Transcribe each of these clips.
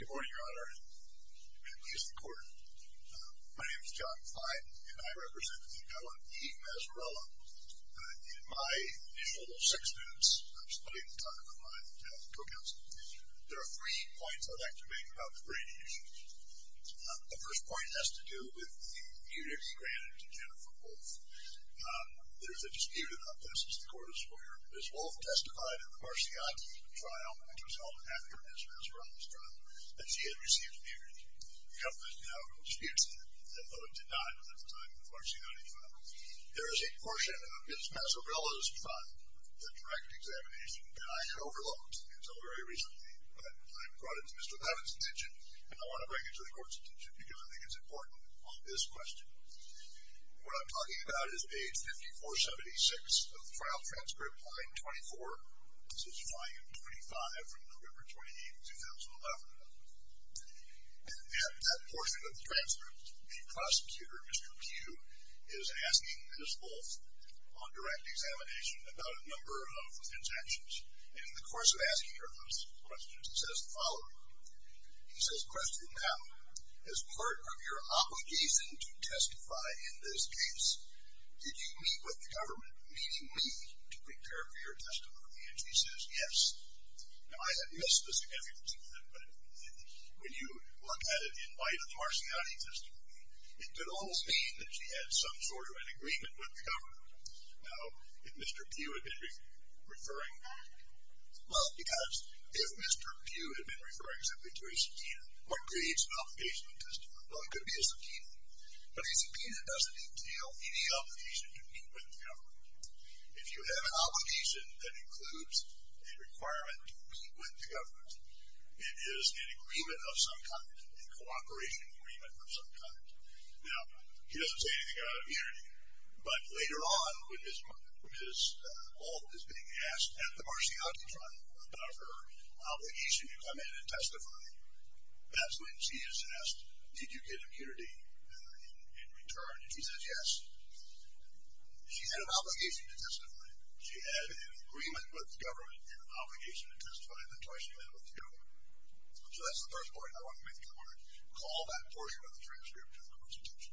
Good morning, Your Honor, and members of the Court. My name is John Fine, and I represent Eve Mazzarella. In my initial six minutes, I'm splitting the time with my co-counsel, there are three points I'd like to make about the Brady issue. The first point has to do with the immunity granted to Jennifer Wolfe. There's a dispute about this. Ms. Wolfe testified in the Marciotti trial, which was held after Ms. Mazzarella's trial, that she had received immunity. The government now disputes that, although it did not at the time of the Marciotti trial. There is a portion of Ms. Mazzarella's trial, the direct examination, and I had overlooked until very recently, but I brought it to Mr. Evans' attention, and I want to bring it to the Court's attention because I think it's important on this question. What I'm talking about is page 5476 of the trial transcript, line 24. This is file 25 from November 28, 2011. At that portion of the transcript, the prosecutor, Mr. Pugh, is asking Ms. Wolfe on direct examination about a number of his actions, and in the course of asking her those questions, he says the following. He says, question now, as part of your obligation to testify in this case, did you meet with the government, meaning me, to prepare for your testimony? And she says, yes. Now, I have missed the significance of that, but when you look at it in light of the Marciotti testimony, it could almost mean that she had some sort of an agreement with the government. Now, if Mr. Pugh had been referring back. Well, because if Mr. Pugh had been referring simply to A.C. Peena, what creates an obligation to testify? Well, it could be A.C. Peena, but A.C. Peena doesn't entail any obligation to meet with the government. If you have an obligation that includes a requirement to meet with the government, it is an agreement of some kind, a cooperation agreement of some kind. Now, he doesn't say anything about it here, but later on when Ms. Walt is being asked at the Marciotti trial about her obligation to come in and testify, that's when she is asked, did you get impunity in return? And she says, yes. She had an obligation to testify. She had an agreement with the government and an obligation to testify, and then twice she met with the government. So that's the first point. I want to make the point, I want to call that portion of the transcript to the Constitution.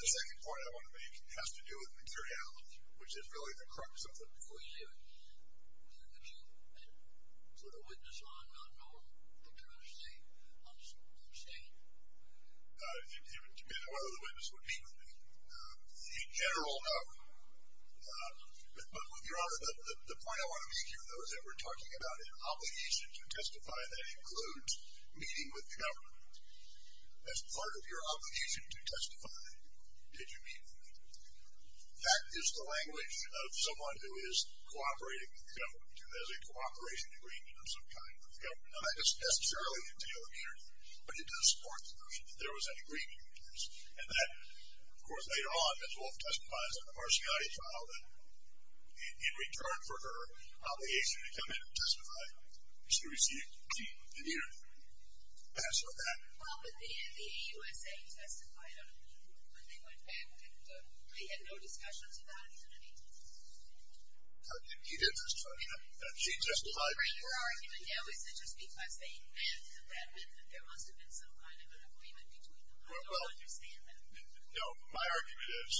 The second point I want to make has to do with materiality, which is really the crux of it. Before you do it, would you put a witness on not knowing that you're going to say, I'm sorry, you're saying? It would depend on whether the witness would meet with me. In general, no. But, Your Honor, the point I want to make here, though, is that we're talking about an obligation to testify that includes meeting with the government. As part of your obligation to testify, did you meet with me? That is the language of someone who is cooperating with the government, who has a cooperation agreement of some kind with the government. Now, that doesn't necessarily entail impunity, but it does support the notion that there was an agreement between us, and that, of course, later on, Ms. Wolfe testifies on the Marciotti trial, that in return for her obligation to come in and testify, she received impunity. Answer that. Well, but then the AUSA testified on it, but they went back and they had no discussion about impunity. You did testify. She testified. Her argument, though, is that just because they met, that there must have been some kind of an agreement between them. I don't understand that. No. My argument is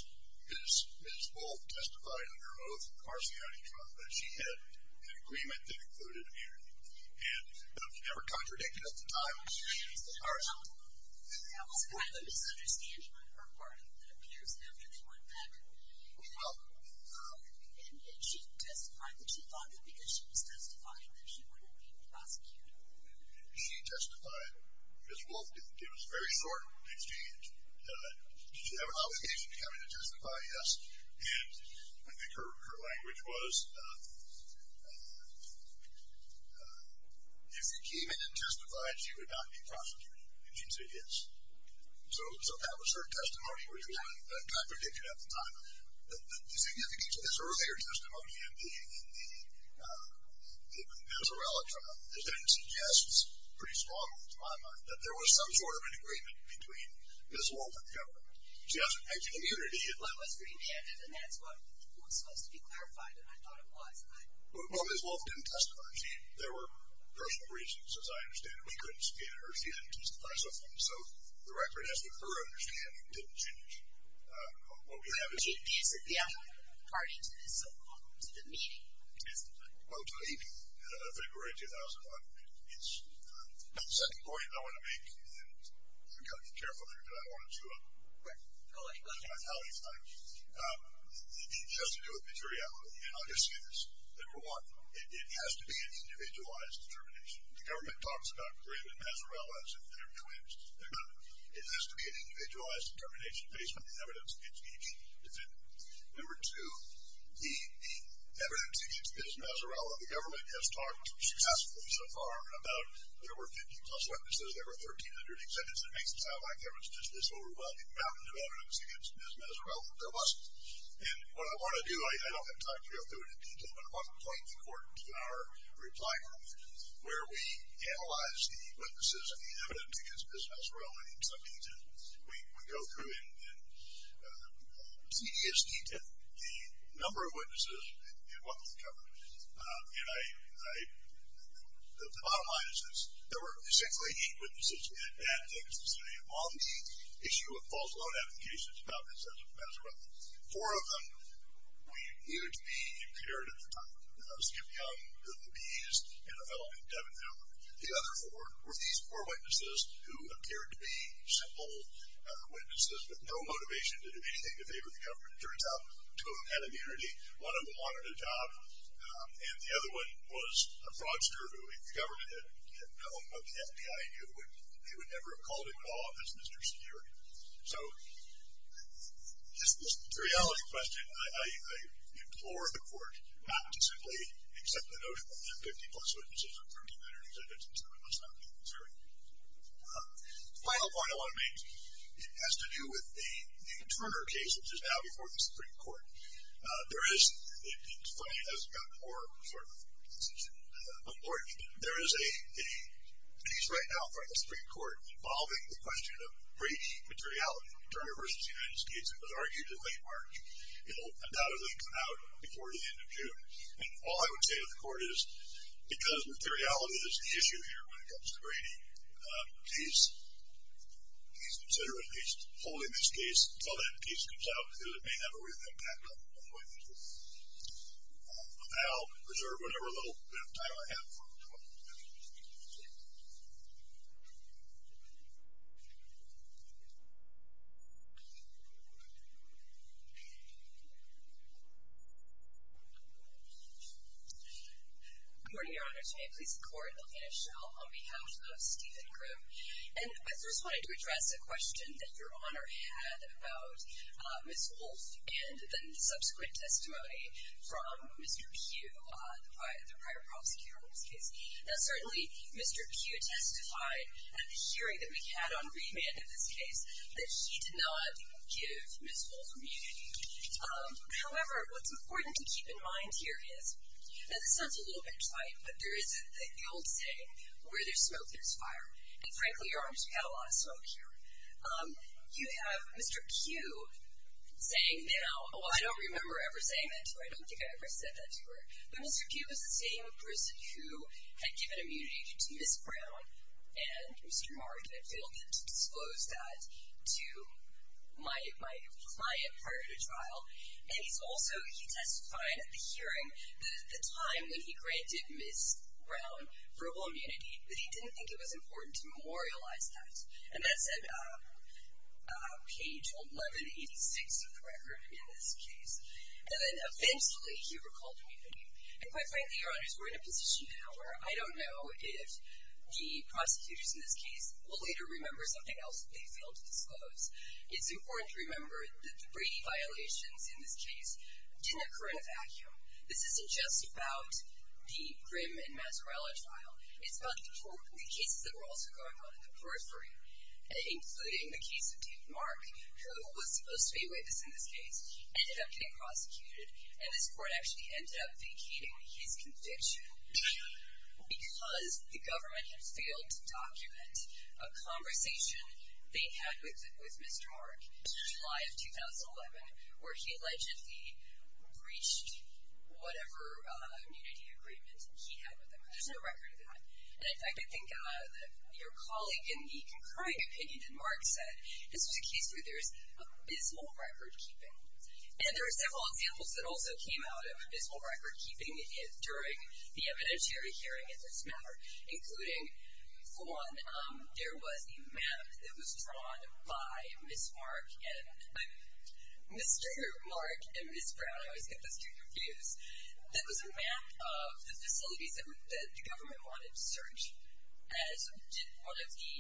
Ms. Wolfe testified under oath on the Marciotti trial that she had an agreement that included a meeting. And that was never contradicted at the time. All right. There was a kind of a misunderstanding on her part, it appears, after they went back. Well. And did she testify that she thought that because she was testifying that she wouldn't be prosecuted? She testified. Ms. Wolfe did. It was a very short exchange. Did she have an obligation to come in and testify? Yes. And I think her language was if you came in and testified, she would not be prosecuted. And she said yes. So that was her testimony, which was not contradicted at the time. The significance of this earlier testimony in the Pizzarella trial then suggests pretty strongly, to my mind, that there was some sort of an agreement between Ms. Wolfe and the government. She has an immunity. Well, it was remanded, and that's what was supposed to be clarified, and I thought it was. But Ms. Wolfe didn't testify. There were personal reasons, as I understand it. We couldn't get her to even testify. So the record is that her understanding didn't change. What we have is. Is it the only party to the meeting? It's about to leave February 2001. It's not the second point I want to make, and we've got to be careful here because I don't want to. Right. Go ahead. She has to do it materially, and I'll just say this. Number one, it has to be an individualized determination. The government talks about Grieve and Pizzarella as if they're twins. They're not. It has to be an individualized determination based on the evidence against each defendant. Number two, the evidence against Ms. Pizzarella, the government has talked successfully so far about there were 15-plus witnesses. There were 1,300 defendants. It makes it sound like there was just this overwhelming amount of evidence against Ms. Pizzarella, but there wasn't. And what I want to do, I don't have time to go through it in detail, but I want to point the court to our reply group where we analyze the witnesses and the evidence against Ms. Pizzarella in some detail. We go through in tedious detail the number of witnesses and what was covered. And the bottom line is this. There were essentially eight witnesses in that case, on the issue of false loan applications about Ms. Pizzarella. Four of them were either to be impaired at the time, Skip Young, Bill Labese, and a fellow named Devin Miller. The other four were these four witnesses who appeared to be simple witnesses with no motivation to do anything to favor the government. It turns out, two of them had immunity. One of them wanted a job, and the other one was a fraudster who, if the government had known what the FBI knew, they would never have called him to office, Mr. Security. So, just this materiality question, I implore the court not to simply accept the notion that 50-plus witnesses or 3,900 defendants and so on must not be considered. The final point I want to make has to do with the Turner case, which is now before the Supreme Court. It's funny, it hasn't gotten more important, but there is a case right now before the Supreme Court involving the question of breach materiality. Turner v. United States was argued in late March. It will undoubtedly come out before the end of June. And all I would say to the court is, because materiality is the issue here when it comes to granting peace, please consider at least holding this case until that peace comes out, because it may have a real impact on witnesses. And I'll reserve whatever little bit of time I have for questions. Good morning, Your Honor. Today, please the court will finish on behalf of Stephen Grimm. And I just wanted to address a question that Your Honor had about Ms. Wolfe and the subsequent testimony from Mr. Pugh, the prior prosecutor in this case. Now, certainly, Mr. Pugh testified at the hearing that we had on remand in this case that he did not give Ms. Wolfe immunity. However, what's important to keep in mind here is, and this sounds a little bit trite, but there is the old saying, where there's smoke, there's fire. And frankly, Your Honor, you've got a lot of smoke here. You have Mr. Pugh saying now, oh, I don't remember ever saying that to her. I don't think I ever said that to her. But Mr. Pugh was the same person who had given immunity to Ms. Brown, and Mr. Martin had failed him to disclose that to my client prior to trial. And he's also, he testified at the hearing, that at the time when he granted Ms. Brown verbal immunity, that he didn't think it was important to memorialize that. And that's at page 1186 of the record in this case. And then eventually he recalled immunity. And quite frankly, Your Honors, we're in a position now where I don't know if the prosecutors in this case will later remember something else that they failed to disclose. It's important to remember the three violations in this case didn't occur in a vacuum. This isn't just about the Grimm and Mazzarella trial. It's about the cases that were also going on in the periphery, including the case of David Mark, who was supposed to be a witness in this case, ended up getting prosecuted. And this court actually ended up vacating his conviction because the government had failed to document a conversation they had with Mr. Mark in July of 2011, where he allegedly breached whatever immunity agreement he had with them. There's no record of that. And I think your colleague in the concurring opinion that Mark said, this was a case where there's abysmal record-keeping. And there are several examples that also came out of abysmal record-keeping during the evidentiary hearing in this matter, including, one, there was a map that was drawn by Mr. Mark and Ms. Brown. I always get those two confused. There was a map of the facilities that the government wanted to search, as did one of the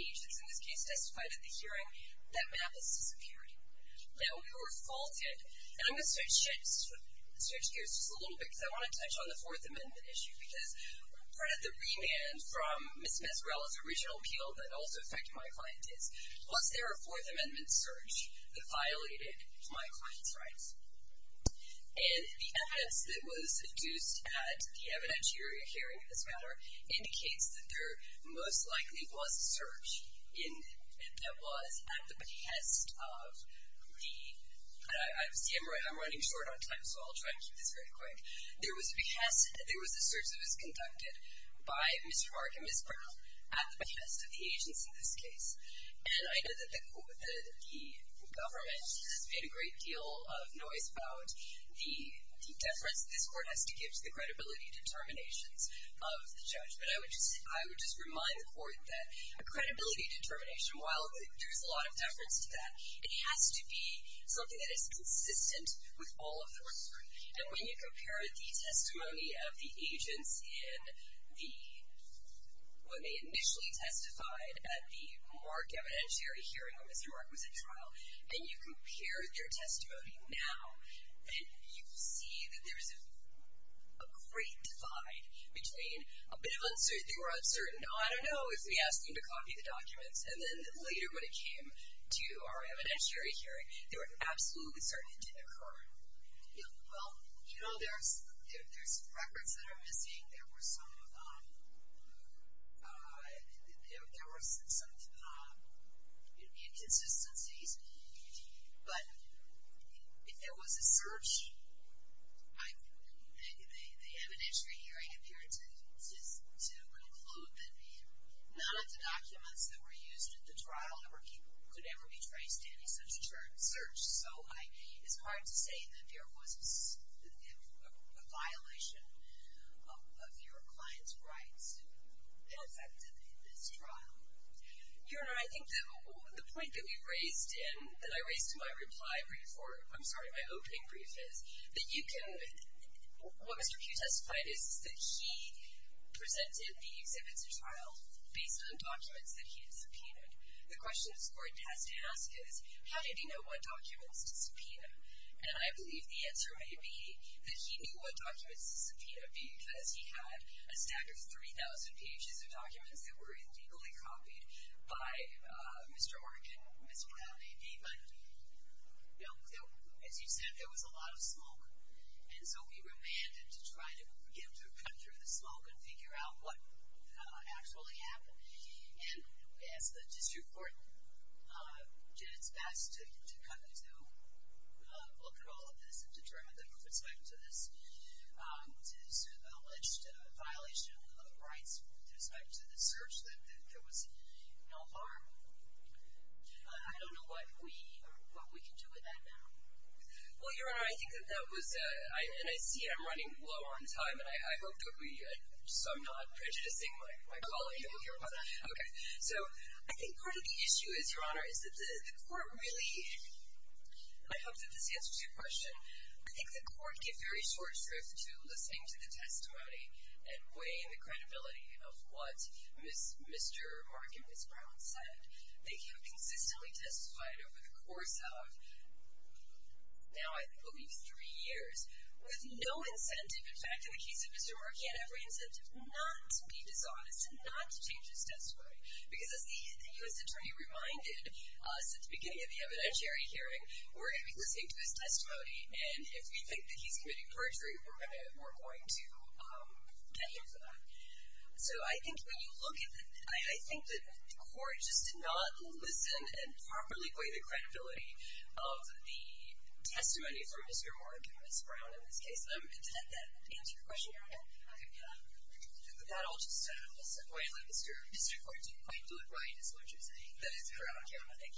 agents in this case testified at the hearing. That map is disappearing. Now, we were faulted, and I'm going to switch gears just a little bit because I want to touch on the Fourth Amendment issue because part of the remand from Ms. Mazzarella's original appeal that also affected my client is, was there a Fourth Amendment search that violated my client's rights? And the evidence that was deduced at the evidentiary hearing in this matter indicates that there most likely was a search that was at the behest of the – and I'm running short on time, so I'll try and keep this very quick. There was a search that was conducted by Mr. Mark and Ms. Brown at the behest of the agents in this case. And I know that the government has made a great deal of noise about the deference this court has to give to the credibility determinations of the judge, but I would just remind the court that a credibility determination, while there's a lot of deference to that, it has to be something that is consistent with all of the research. And when you compare the testimony of the agents in the – in the Mr. Mark evidentiary hearing when Mr. Mark was at trial, and you compare their testimony now, and you see that there's a great divide between a bit of uncertainty or uncertainty, I don't know, if we asked them to copy the documents, and then later when it came to our evidentiary hearing, they were absolutely certain it didn't occur. Well, you know, there's records that are missing. There were some – there were some inconsistencies. But if there was a search, the evidentiary hearing appeared to conclude that none of the documents that were used at the trial could ever be traced to any such search. So it's hard to say that there was a violation of your client's rights that affected this trial. Your Honor, I think that the point that we raised in – that I raised in my reply brief, or I'm sorry, my opening brief is, that you can – what Mr. Pugh testified is that he presented the exhibits at trial based on documents that he had subpoenaed. The question this Court has to ask is, how did he know what documents to subpoena? And I believe the answer may be that he knew what documents to subpoena because he had a stack of 3,000 pages of documents that were illegally copied by Mr. Orr and Ms. Brown. But, you know, as you said, there was a lot of smoke. And so we remanded to try to get him to cut through the smoke and figure out what actually happened. And we asked the district court, did its best to look at all of this and determine that there was respect to this alleged violation of rights with respect to the search, that there was no harm. I don't know what we can do with that now. Well, Your Honor, I think that that was – and I see I'm running low on time, and I hope that we – so I'm not prejudicing my colleague here. Okay. So I think part of the issue is, Your Honor, is that the court really – I hope that this answers your question. I think the court gave very short shrift to listening to the testimony and weighing the credibility of what Mr. Mark and Ms. Brown said. They have consistently testified over the course of now, I believe, three years with no incentive – in fact, in the case of Mr. Mark, he had every incentive not to be dishonest and not to change his testimony. Because as the U.S. Attorney reminded us at the beginning of the evidentiary hearing, we're going to be listening to his testimony, and if we think that he's committing perjury, we're going to get him for that. So I think when you look at – I think that the court just did not listen and properly weigh the credibility of the testimony from Mr. Mark and Ms. Brown in this case. I'm content that answered your question, Your Honor. Okay. Yeah. With that, I'll just say, disappointingly, Mr. Court, you did quite do it right, is what you're saying. That is correct, Your Honor. Thank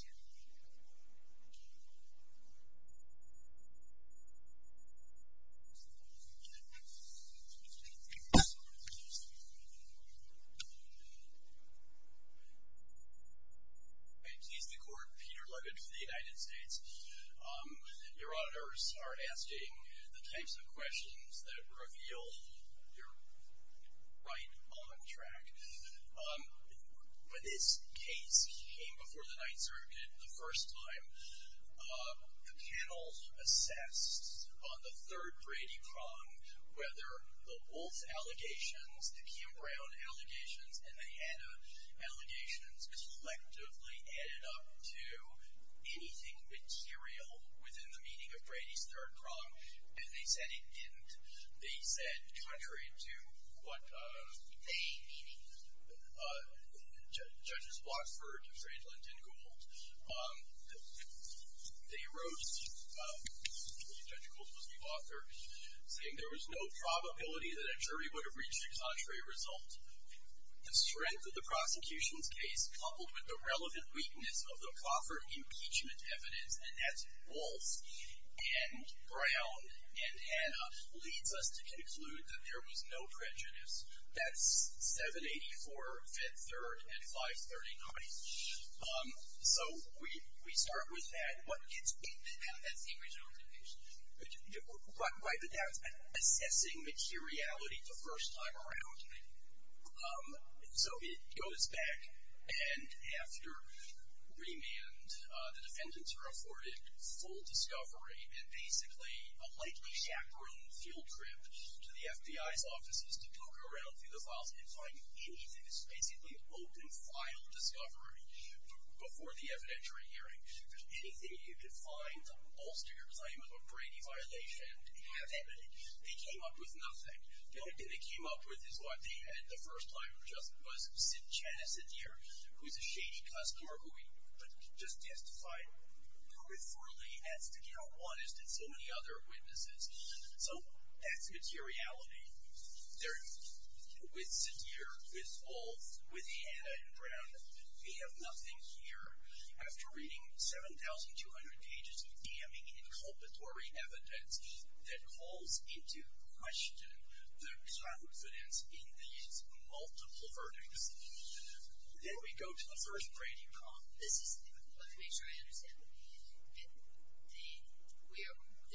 you. Thank you. Please, the Court. Peter Luggett for the United States. Your auditors are asking the types of questions that reveal your right on track. When this case came before the Ninth Circuit the first time, the panel assessed on the third Brady prong whether the Wolf allegations, the Kim-Brown allegations, and the Hanna allegations collectively added up to anything material within the meaning of Brady's third prong. And they said it didn't. They said, contrary to what judges Blockford and Franklin and Gould, they wrote, Judge Gould was the author, saying there was no probability that a jury would have reached a contrary result. The strength of the prosecution's case, coupled with the relevant weakness of the Crawford impeachment evidence, and that's Wolf and Brown and Hanna, leads us to conclude that there was no prejudice. That's 784, Fifth Third, and 539. So, we start with that. How did that seem resolved in the case? Quite the doubt. Assessing materiality the first time around. So, it goes back. And after remand, the defendants are afforded full discovery and basically a likely chaperone field trip to the FBI's offices to poke around through the files and find anything. This is basically open file discovery before the evidentiary hearing. If there's anything you can find to bolster your claim of a Brady violation, have it. They came up with nothing. The only thing they came up with is what they had the first time, which was Chana Sadeer, who's a shady customer, who we just testified peripherally as the count one, as did so many other witnesses. So, that's materiality. With Sadeer, with Wolf, with Hanna and Brown, we have nothing here. After reading 7,200 pages of damning, inculpatory evidence that calls into question the confidence in these multiple verdicts, then we go to the first Brady call. Let me make sure I understand.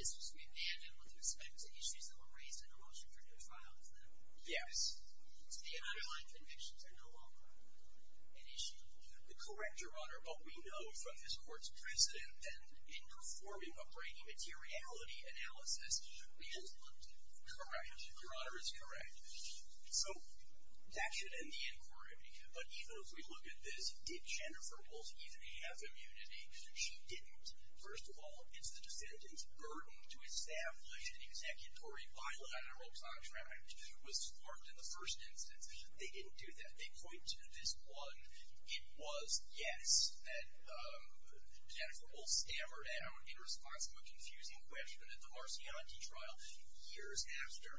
This was remanded with respect to issues that were raised in the Washington trial, is that correct? Yes. So, the underlying convictions are no longer an issue? Correct, Your Honor. But we know from this Court's precedent that in performing a Brady materiality analysis, we just looked at it. Correct. Your Honor is correct. So, that should end the inquiry. But even if we look at this, did Jennifer Wolfe even have immunity? She didn't. First of all, it's the defendant's burden to establish an executory bilateral contract was formed in the first instance. They didn't do that. They point to this one. It was, yes, that Jennifer Wolfe stammered out in response to a confusing question at the Marcianti trial years after.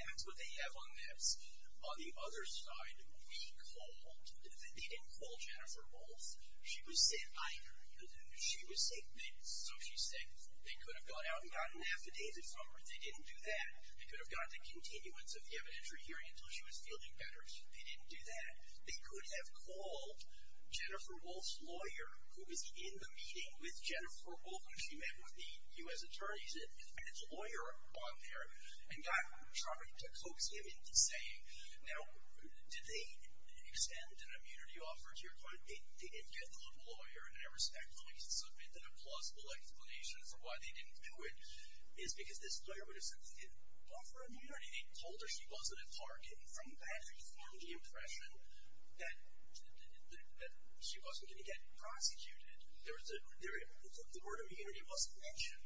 That's what they have on this. On the other side, we called. They didn't call Jennifer Wolfe. She was sick. I heard her. She was sick. So, she's sick. They could have gone out and gotten an affidavit from her. They didn't do that. They could have got the continuance of the evidentiary hearing until she was feeling better. They didn't do that. They could have called Jennifer Wolfe's lawyer, who was in the meeting with Jennifer Wolfe when she met with the U.S. attorneys, and his lawyer on there, and got Trump to coax him into saying, now, did they extend an immunity offer to your client? They didn't get the lawyer. And I respectfully submit that a plausible explanation for why they didn't do it is because this lawyer would have said, offer immunity. They told her she wasn't a target. And from that, we formed the impression that she wasn't going to get prosecuted. The word immunity wasn't mentioned.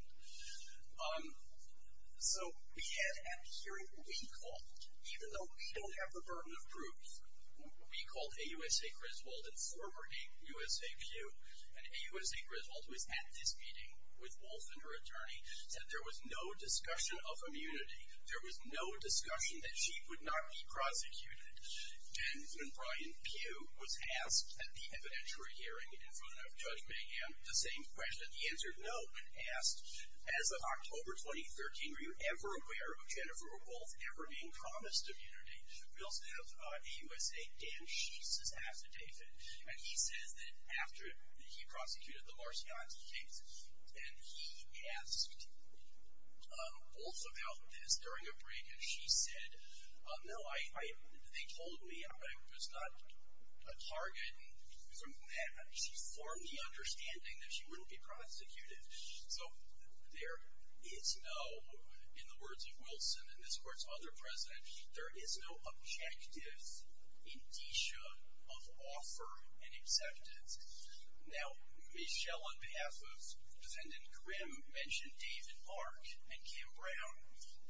So, we had a hearing we called, even though we don't have the burden of proof. We called AUSA Griswold and former USAQ, and AUSA Griswold, who was at this meeting with Wolfe and her attorney, said there was no discussion of immunity. There was no discussion that she would not be prosecuted. And when Brian Pugh was asked at the evidentiary hearing in front of Judge Mahan, the same question, and he answered no, but asked, as of October 2013, were you ever aware of Jennifer Wolfe ever being promised immunity? We also have AUSA Dan Sheets' affidavit, and he says that after he prosecuted the Marcianti case, and he asked Wolfe about this during a break, and she said, no, they told me I was not a target. And from that, she formed the understanding that she wouldn't be prosecuted. So, there is no, in the words of Wilson and this court's other president, there is no objective indicia of offer and acceptance. Now, Michelle, on behalf of Defendant Grimm, mentioned David Mark and Kim Brown.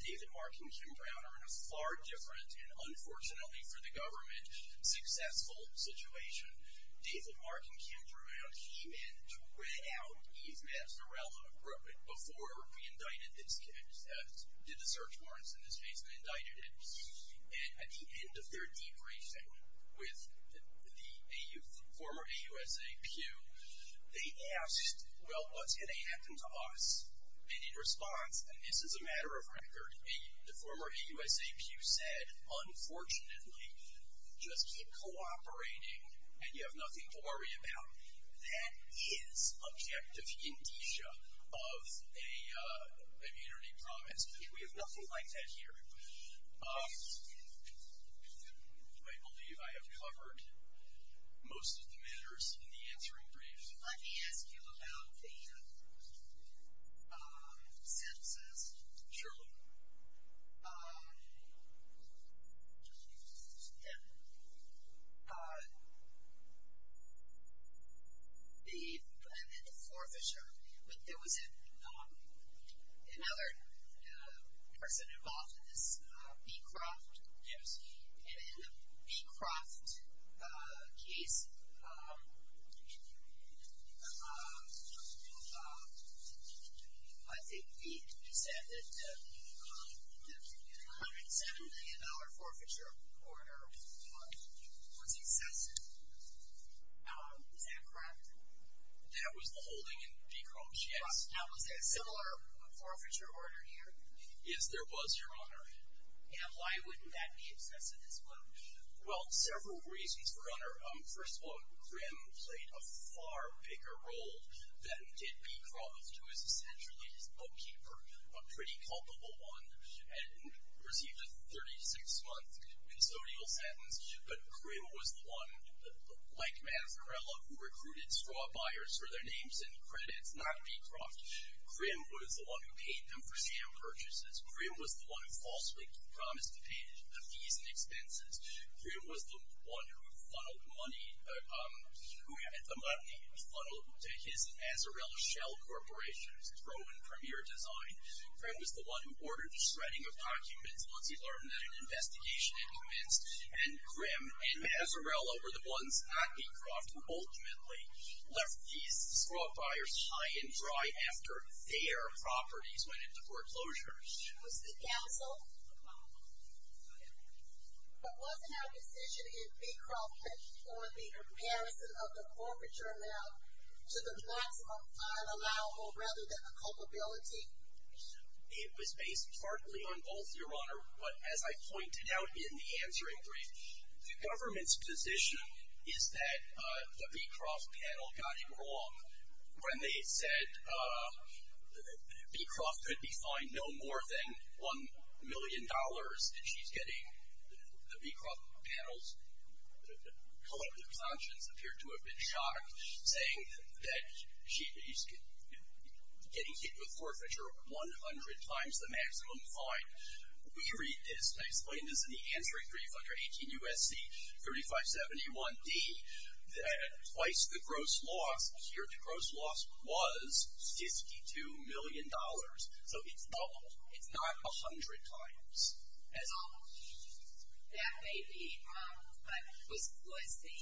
David Mark and Kim Brown are in a far different, and unfortunately for the government, successful situation. David Mark and Kim Brown came in to red out Yves Mazzarella before we indicted this case, did the search warrants in this case and indicted it. At the end of their debriefing with the former AUSA Pew, they asked, well, what's going to happen to us? And in response, and this is a matter of record, the former AUSA Pew said, unfortunately, just keep cooperating, and you have nothing to worry about. That is objective indicia of an immunity promise. We have nothing like that here. I believe I have covered most of the matters in the answering brief. Let me ask you about the census. Sure. And the forefisher, but there was another person involved in this, Beecroft. Yes. And in the Beecroft case, I think you said that the $107 million forfeiture order was excessive. Is that correct? That was the holding in Beecroft, yes. Now, was there a similar forfeiture order here? Yes, there was, Your Honor. And why wouldn't that be excessive as well? Well, several reasons, Your Honor. First of all, Grimm played a far bigger role than did Beecroft, who is essentially his bookkeeper, a pretty culpable one, and received a 36-month consodial sentence. But Grimm was the one, like Mazzarella, who recruited straw buyers for their names and credits, not Beecroft. Grimm was the one who paid them for scam purchases. Grimm was the one who falsely promised to pay the fees and expenses. Grimm was the one who had the money funneled to his Mazzarella Shell Corporation to throw in premier design. Grimm was the one who ordered the shredding of documents once he learned that an investigation had commenced. And Grimm and Mazzarella were the ones at Beecroft who ultimately left these straw buyers high and dry after their properties went into foreclosure. Who's the counsel? But wasn't our decision in Beecroft based on the comparison of the forfeiture amount to the maximum unallowable rather than the culpability? It was based partly on both, Your Honor. But as I pointed out in the answering brief, the government's position is that the Beecroft panel got it wrong when they said Beecroft could be fined no more than $1 million. She's getting the Beecroft panel's collective conscience appear to have been shocked, saying that she's getting hit with forfeiture 100 times the maximum fine. We read this, I explained this in the answering brief under 18 U.S.C. 3571d, that twice the gross loss, here the gross loss was $62 million. So it's doubled. It's not 100 times as all. That may be, but was the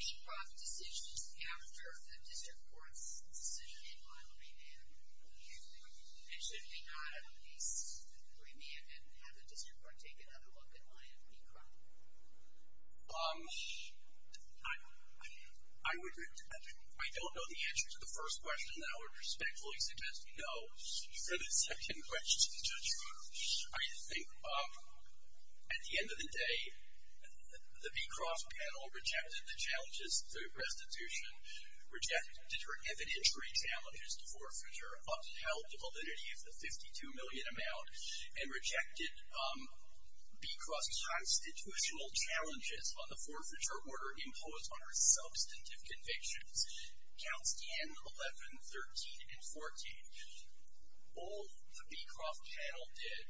Beecroft decision after the district court's decision in Wyoming, and should we not have at least remanded and have the district court take another look at Wyoming Beecroft? I don't know the answer to the first question, and I would respectfully suggest no for the second question, Judge. I think at the end of the day, the Beecroft panel rejected the challenges to restitution, rejected her evidentiary challenges to forfeiture, upheld the validity of the $52 million amount, and rejected Beecroft's constitutional challenges on the forfeiture order imposed on her substantive convictions. Counts 10, 11, 13, and 14. All the Beecroft panel did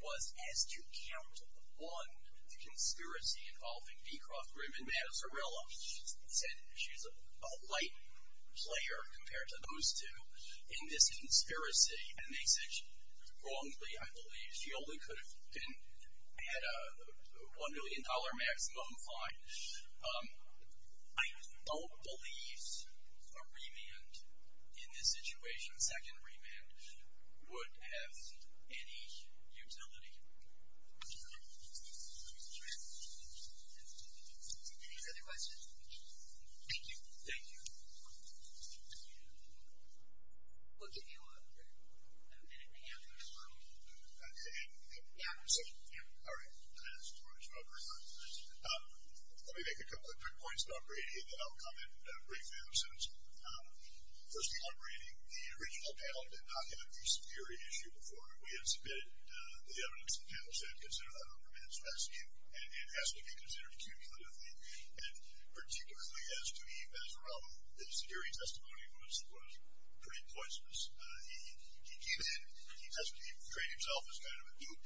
was ask to count one conspiracy involving Beecroft, Grimm, and Mazzarella. She said she's a light player compared to those two in this conspiracy, and they said wrongly, I believe. She only could have had a $1 million maximum fine. I don't believe a remand in this situation, a second remand, would have any utility. Any other questions? Thank you. Thank you. We'll give you a minute and a half. Yeah. All right. Let me make a couple of quick points about Brady, and then I'll comment briefly on them. Firstly, on Brady, the original panel did not have a use of theory issue before. We had submitted the evidence, and the panel said consider that a remand is best, and it has to be considered cumulatively, and particularly as to Eve Mazzarella, his theory testimony was pretty poisonous. He came in, he portrayed himself as kind of a dupe.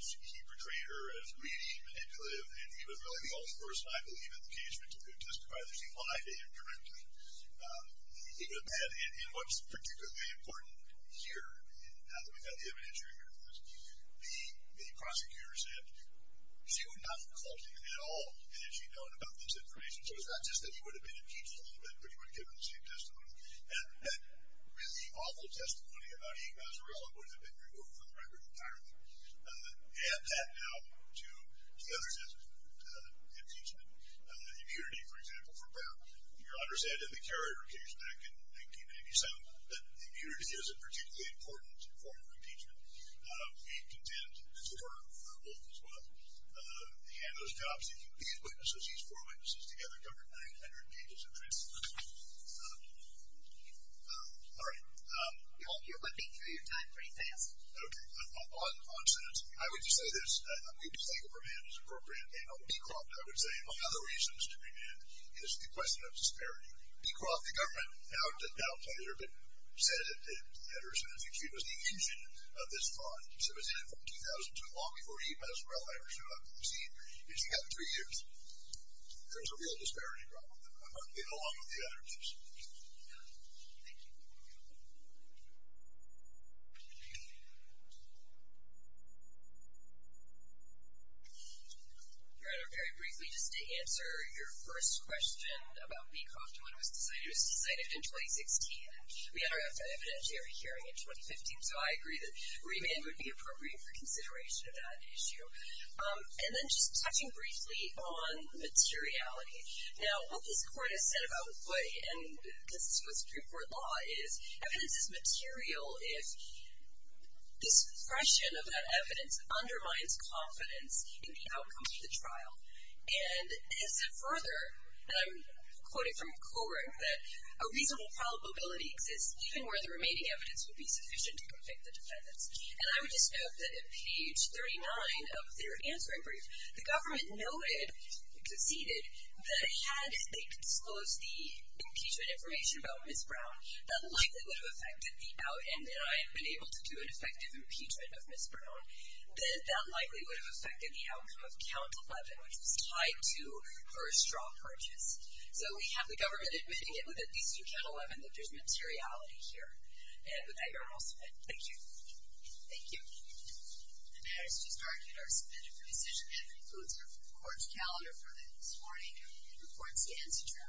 He portrayed her as greedy, manipulative, and he was really the only person I believe in the case which could testify that she lied to him correctly. Even then, in what's particularly important here, now that we've got the evidence here, the prosecutor said she would not have called him at all had she known about this information. So it's not just that he would have been impeached a little bit, but he would have given the same testimony. And that really awful testimony about Eve Mazzarella would have been removed from the record entirely. Add that now to the other impeachment immunity, for example, for Brown. Your Honor said in the Carrier case back in 1997 that immunity is a particularly important form of impeachment. We contend, as you've heard from both as well, and those jobs that you've witnessed, so she's four witnesses together, covered 900 pages of transcripts. All right. Your Honor, you're flipping through your time pretty fast. Okay. On sentence, I would just say this. A mistake of remand is appropriate, and on Beecroft, I would say, one of the reasons to remand is the question of disparity. Beecroft, the government, said that Ederson, as you've seen, was the engine of this fraud. So it was in 14,000, so long before Eve Mazzarella ever showed up. You see, it's gotten three years. There's a real disparity problem there, along with the other issues. Thank you. Your Honor, very briefly, just to answer your first question about Beecroft, the question when it was decided, it was decided in 2016. We had our evidentiary hearing in 2015, so I agree that remand would be appropriate for consideration of that issue. And then just touching briefly on materiality. Now, what this Court has said about what, and this is what the Supreme Court law is, evidence is material if the suppression of that evidence undermines confidence in the outcome of the trial. And it is further, and I'm quoting from Coring, that a reasonable probability exists even where the remaining evidence would be sufficient to convict the defendants. And I would just note that at page 39 of their answering brief, the government noted, conceded, that had they disclosed the impeachment information about Ms. Brown, that likely would have affected the outcome, and that I had been able to do an effective impeachment of Ms. Brown, that that likely would have affected the outcome of count 11, which was tied to her straw purchase. So we have the government admitting it with at least count 11, that there's materiality here. And with that, Your Honor, I'll submit. Thank you. Thank you. The matter is just argued. Our submitted presentation concludes the Court's calendar for this morning. The Court stands adjourned.